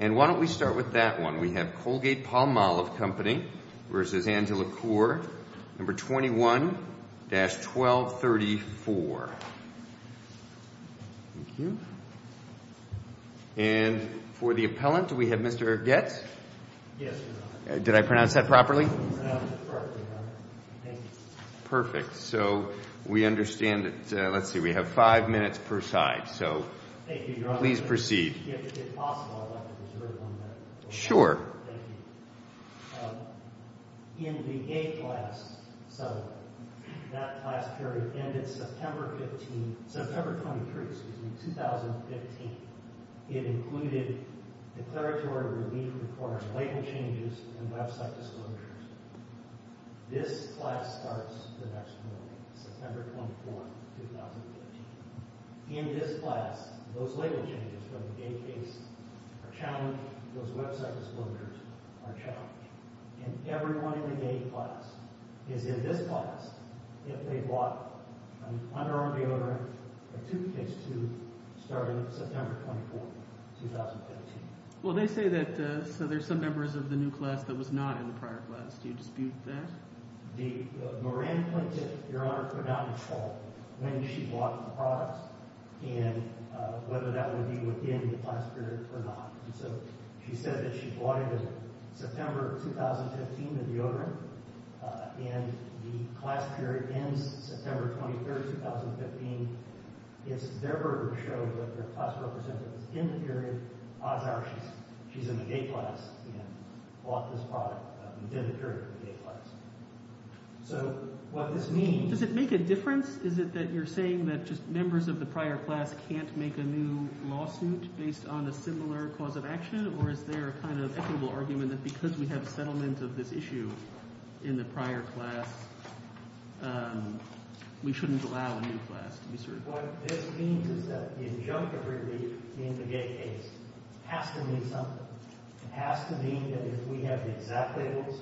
21-1234. Thank you. And for the appellant, do we have Mr. Goetz? Yes, Your Honor. Did I pronounce that properly? You pronounced it perfectly, Your Honor. Thank you. Perfect. So we understand that, let's see, we have five minutes per side. So, please proceed. Thank you, Your Honor. If possible, I'd like to preserve one minute. Sure. Thank you. In the A class settlement, that class period ended September 15, September 23, excuse me, 2015. It included declaratory relief reports, label changes, and website disclosures. This class starts the next morning, September 24, 2015. In this class, those label changes for the gate case are challenged, those website disclosures are challenged. And everyone in the gate class is in this class if they bought an underarm deodorant, a toothpaste tube starting September 24, 2015. Well, they say that, so there's some members of the new class that was not in the prior class. Do you dispute that? The Moran plaintiff, Your Honor, put out a call when she bought the products and whether that would be within the class period or not. So she said that she bought it in September 2015, the deodorant, and the class period ends September 23, 2015. It's never shown that the class representative is in the period. Odds are she's in the gate class and bought this product within the period of the gate class. So what this means... Does it make a difference? Is it that you're saying that just members of the prior class can't make a new lawsuit based on a similar cause of action? Or is there a kind of equitable argument that because we have a settlement of this issue in the prior class, we shouldn't allow a new class to be served? What this means is that the adjunct of relief in the gate case has to mean something. It has to mean that if we have the exact labels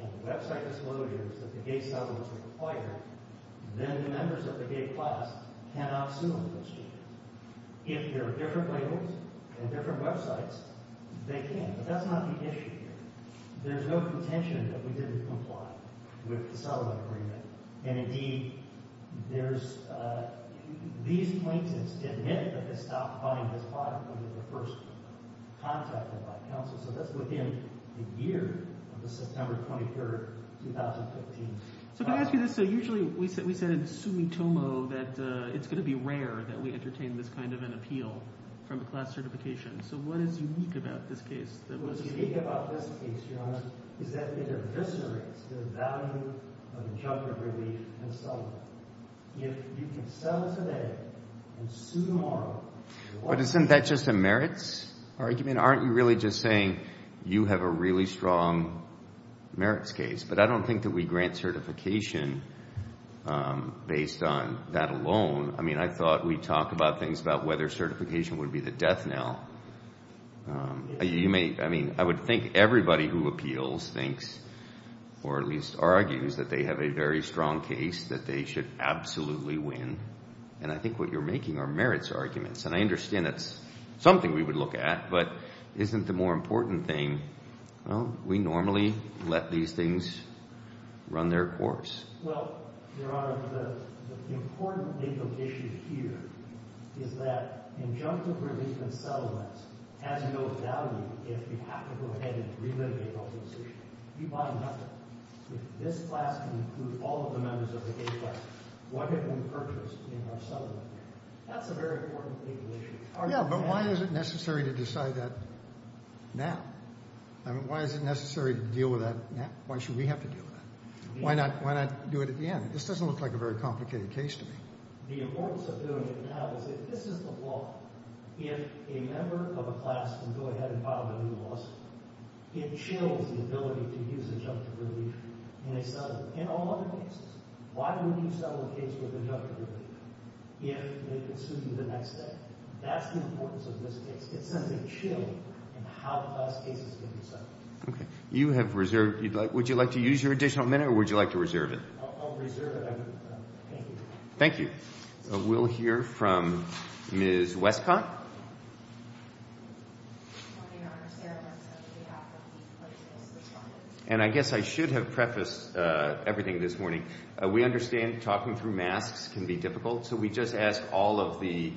and website disclosures that the gate settlements require, then the members of the gate class cannot sue them this year. If there are different labels and different websites, they can, but that's not the issue here. There's no contention that we didn't comply with the settlement agreement. And indeed, there's... These plaintiffs admit that they stopped buying this product when they were first contacted by counsel. So that's within the year of the September 23, 2015... So can I ask you this? So usually we said in summa tomo that it's going to be rare that we entertain this kind of an appeal from a class certification. So what is unique about this case? What's unique about this case, Your Honor, is that it eviscerates the value of the adjunct of relief and settlement. If you can sell it today and sue tomorrow... But isn't that just a merits argument? Aren't you really just saying you have a really strong merits case? But I don't think that we grant certification based on that alone. I mean, we talk about things about whether certification would be the death knell. I mean, I would think everybody who appeals thinks, or at least argues, that they have a very strong case that they should absolutely win. And I think what you're making are merits arguments. And I understand that's something we would look at, but isn't the more important thing, well, we normally let these things run their course? Well, Your Honor, the important legal issue here is that adjunct of relief and settlement has no value if you have to go ahead and relitigate all those issues. If this class can include all of the members of the A class, what if we purchased in our settlement? That's a very important legal issue. Yeah, but why is it necessary to decide that now? I mean, why is it necessary to deal with that now? Why should we have to deal with that? Why not do it at the end? This doesn't look like a very complicated case to me. The importance of doing it now is that this is the law. If a member of a class can go ahead and file a new lawsuit, it chills the ability to use adjunct of relief in a settlement. In all other cases, why wouldn't you settle a case with adjunct of relief if they can sue you the next day? That's the importance of this case. It sends a chill in how the class cases can be settled. Okay. You have reserved. Would you like to use your additional minute or would you like to reserve it? I'll reserve it. Thank you. Thank you. We'll hear from Ms. Westcott. And I guess I should have prefaced everything this morning. We understand talking through masks can be difficult, so we just ask all of the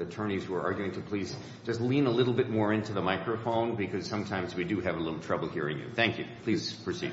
attorneys who are arguing to please just lean a little bit more into the microphone because sometimes we do have a little trouble hearing you. Thank you. Please proceed.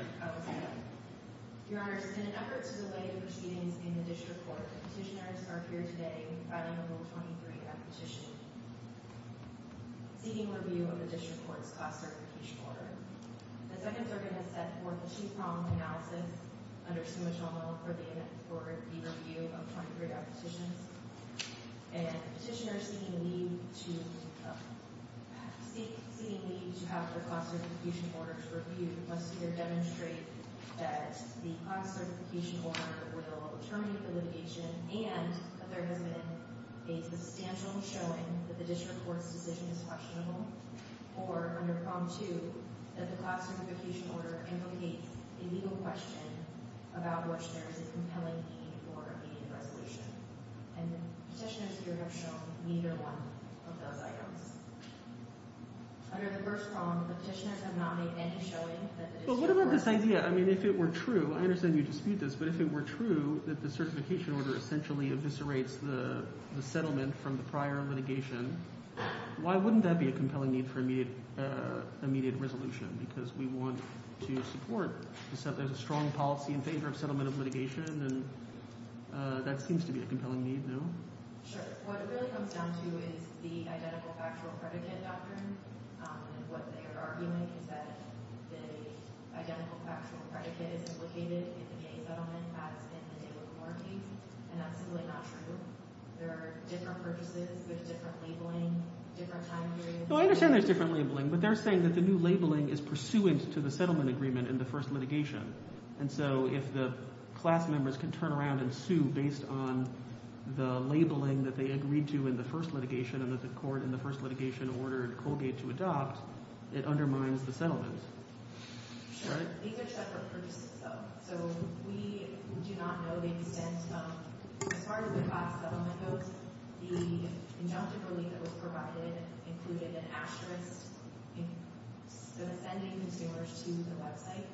Seemingly, to have a class certification order to refute must either demonstrate that the class certification order will determine the litigation and that there has been a substantial showing that the district court's decision is questionable or, under Prompt II, that the class certification order implicates a legal question about which there is a compelling need for an immediate resolution. And the petitioners here have shown neither one of those items. Under the first Prompt, the petitioners have not made any showing that the district court... But what about this idea? I mean, if it were true, I understand you dispute this, but if it were true that the certification order essentially eviscerates the settlement from the prior litigation, why wouldn't that be a compelling need for immediate resolution? Because we want to support the fact that there's a strong policy in favor of settlement of settlement. That seems to be a compelling need, no? Sure. What it really comes down to is the identical factual predicate doctrine. What they are arguing is that the identical factual predicate is implicated in the settlement as in the David Moore case, and that's simply not true. There are different purposes with different labeling, different time periods... Well, I understand there's different labeling, but they're saying that the new labeling is pursuant to the settlement agreement in the first litigation. And so if the class members can turn around and sue based on the labeling that they agreed to in the first litigation and that the court in the first litigation ordered Colgate to adopt, it undermines the settlement. Sure. These are separate purposes, though. So we do not know the extent... As far as the class settlement goes, the injunctive relief that was provided included an asterisk in sending consumers to the website.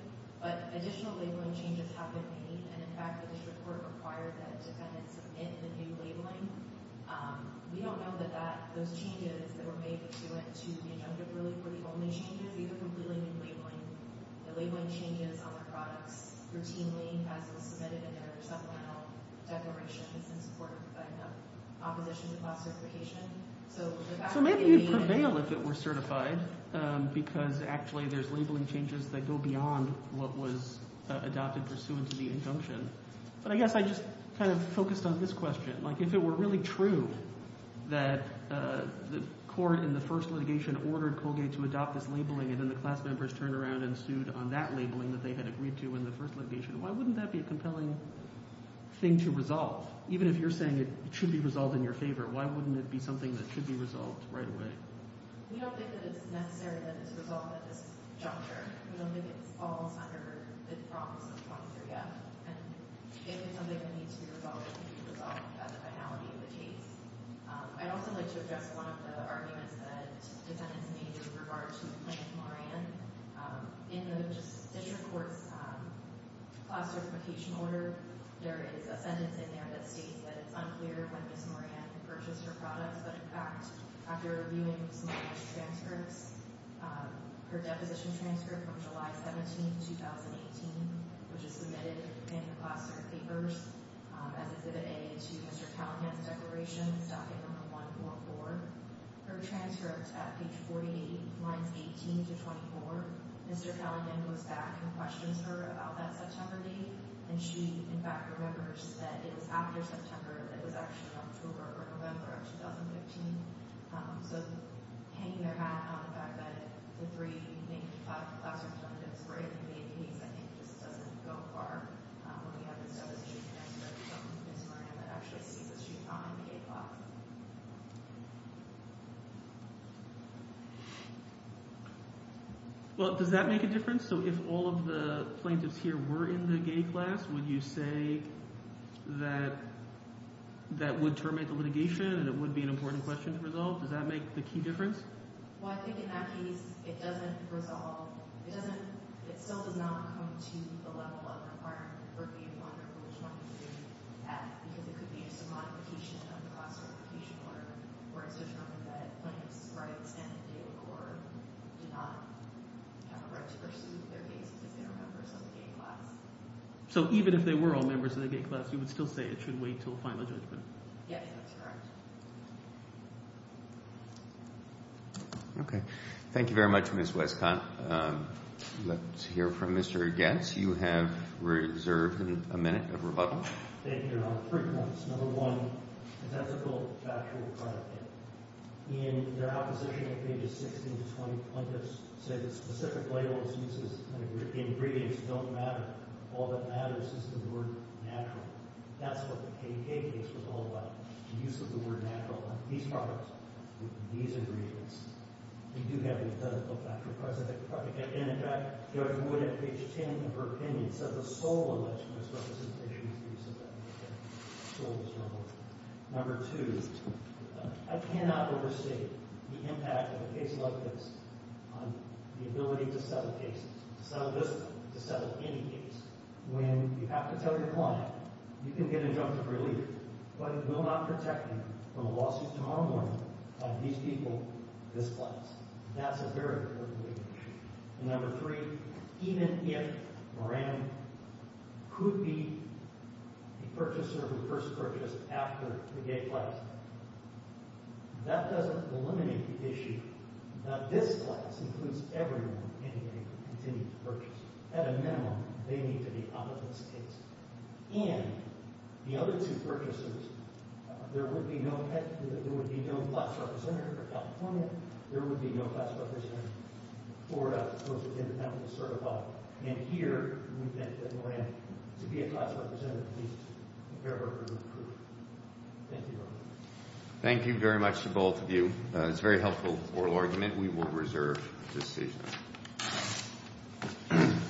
But additional labeling changes have been made, and in fact the district court required that defendants submit the new labeling. We don't know that those changes that were made to it, to the injunctive relief, were the only changes. These are completely new labeling. The labeling changes on the products routinely as it was submitted in their supplemental declarations in support of the opposition to class certification. So maybe you'd prevail if it were certified, because actually there's labeling changes that go beyond what was adopted pursuant to the injunction. But I guess I just kind of focused on this question. Like, if it were really true that the court in the first litigation ordered Colgate to adopt this labeling and then the class members turned around and sued on that labeling that they had agreed to in the first litigation, why wouldn't that be a compelling thing to resolve? Even if you're saying it should be resolved in your favor, why wouldn't it be something that could be resolved right away? We don't think that it's necessary that it's resolved at this juncture. We don't think it falls under the promise of 23F. And if it's something that needs to be resolved, it can be resolved at the finality of the case. I'd also like to address one of the arguments that defendants made with regard to plaintiff Moran. In the district court's class certification order, there is a sentence in there that states that it's unclear when plaintiff Moran purchased her products, but in fact, after reviewing some of those transcripts, her deposition transcript from July 17, 2018, which is submitted in the class cert papers as exhibit A to Mr. Callaghan's declaration, stopping on 144, her transcript at page 48, lines 18 to 24, Mr. Callaghan goes back and questions her about that September date, and she, in fact, remembers that it was after September, it was actually October or November of 2015. So hanging their hat on the fact that the three class representatives were in the gay case, I think just doesn't go far when we have this deposition transcript from Ms. Moran that actually states that she was not in the gay class. Well, does that make a difference? So if all of the plaintiffs here were in the gay class, would you say that that would terminate the litigation and it would be an important question to resolve? Does that make the key difference? Well, I think in that case, it doesn't resolve. It still does not come to the level of requirement where it would be a wonderfully strong issue, because it could be just a modification of the class certification order, or it's just something that plaintiffs' rights and the legal court do not have a right to pursue their case because they are members of the gay class. So even if they were all members of the gay class, you would still say it should wait until final judgment? Yes, that's correct. Okay. Thank you very much, Ms. Westcott. Let's hear from Mr. Getz. You have reserved a minute of rebuttal. Thank you, Your Honor. Three points. Number one, the ethical factual credit. In their opposition to pages 16 to 20, plaintiffs say that specific labels, uses, and ingredients don't matter. All that matters is the word natural. That's what the KKK was all about, the use of the word natural. These products, these ingredients, they do have the ethical factual credit. In fact, Judge Wood at page 10 of her opinion says the sole alleged misrepresentation is the use of that word. The sole misrepresentation. Number two, I cannot overstate the impact of a case like this on the ability to settle cases, to settle this case, to settle any case, when you have to tell your client, you can get injunctive relief, but it will not Number three, even if Moran could be the purchaser who first purchased after the gay class, that doesn't eliminate the issue that this class includes everyone in a gay continued purchase. At a minimum, they need to be opposite states. And the other two purchasers, there would be no class representative for California, there would be no class representative for those with independent certified. And here, we think that Moran, to be a class representative, needs to be heard and approved. Thank you very much. Thank you very much to both of you. It's a very helpful oral argument we will reserve this evening.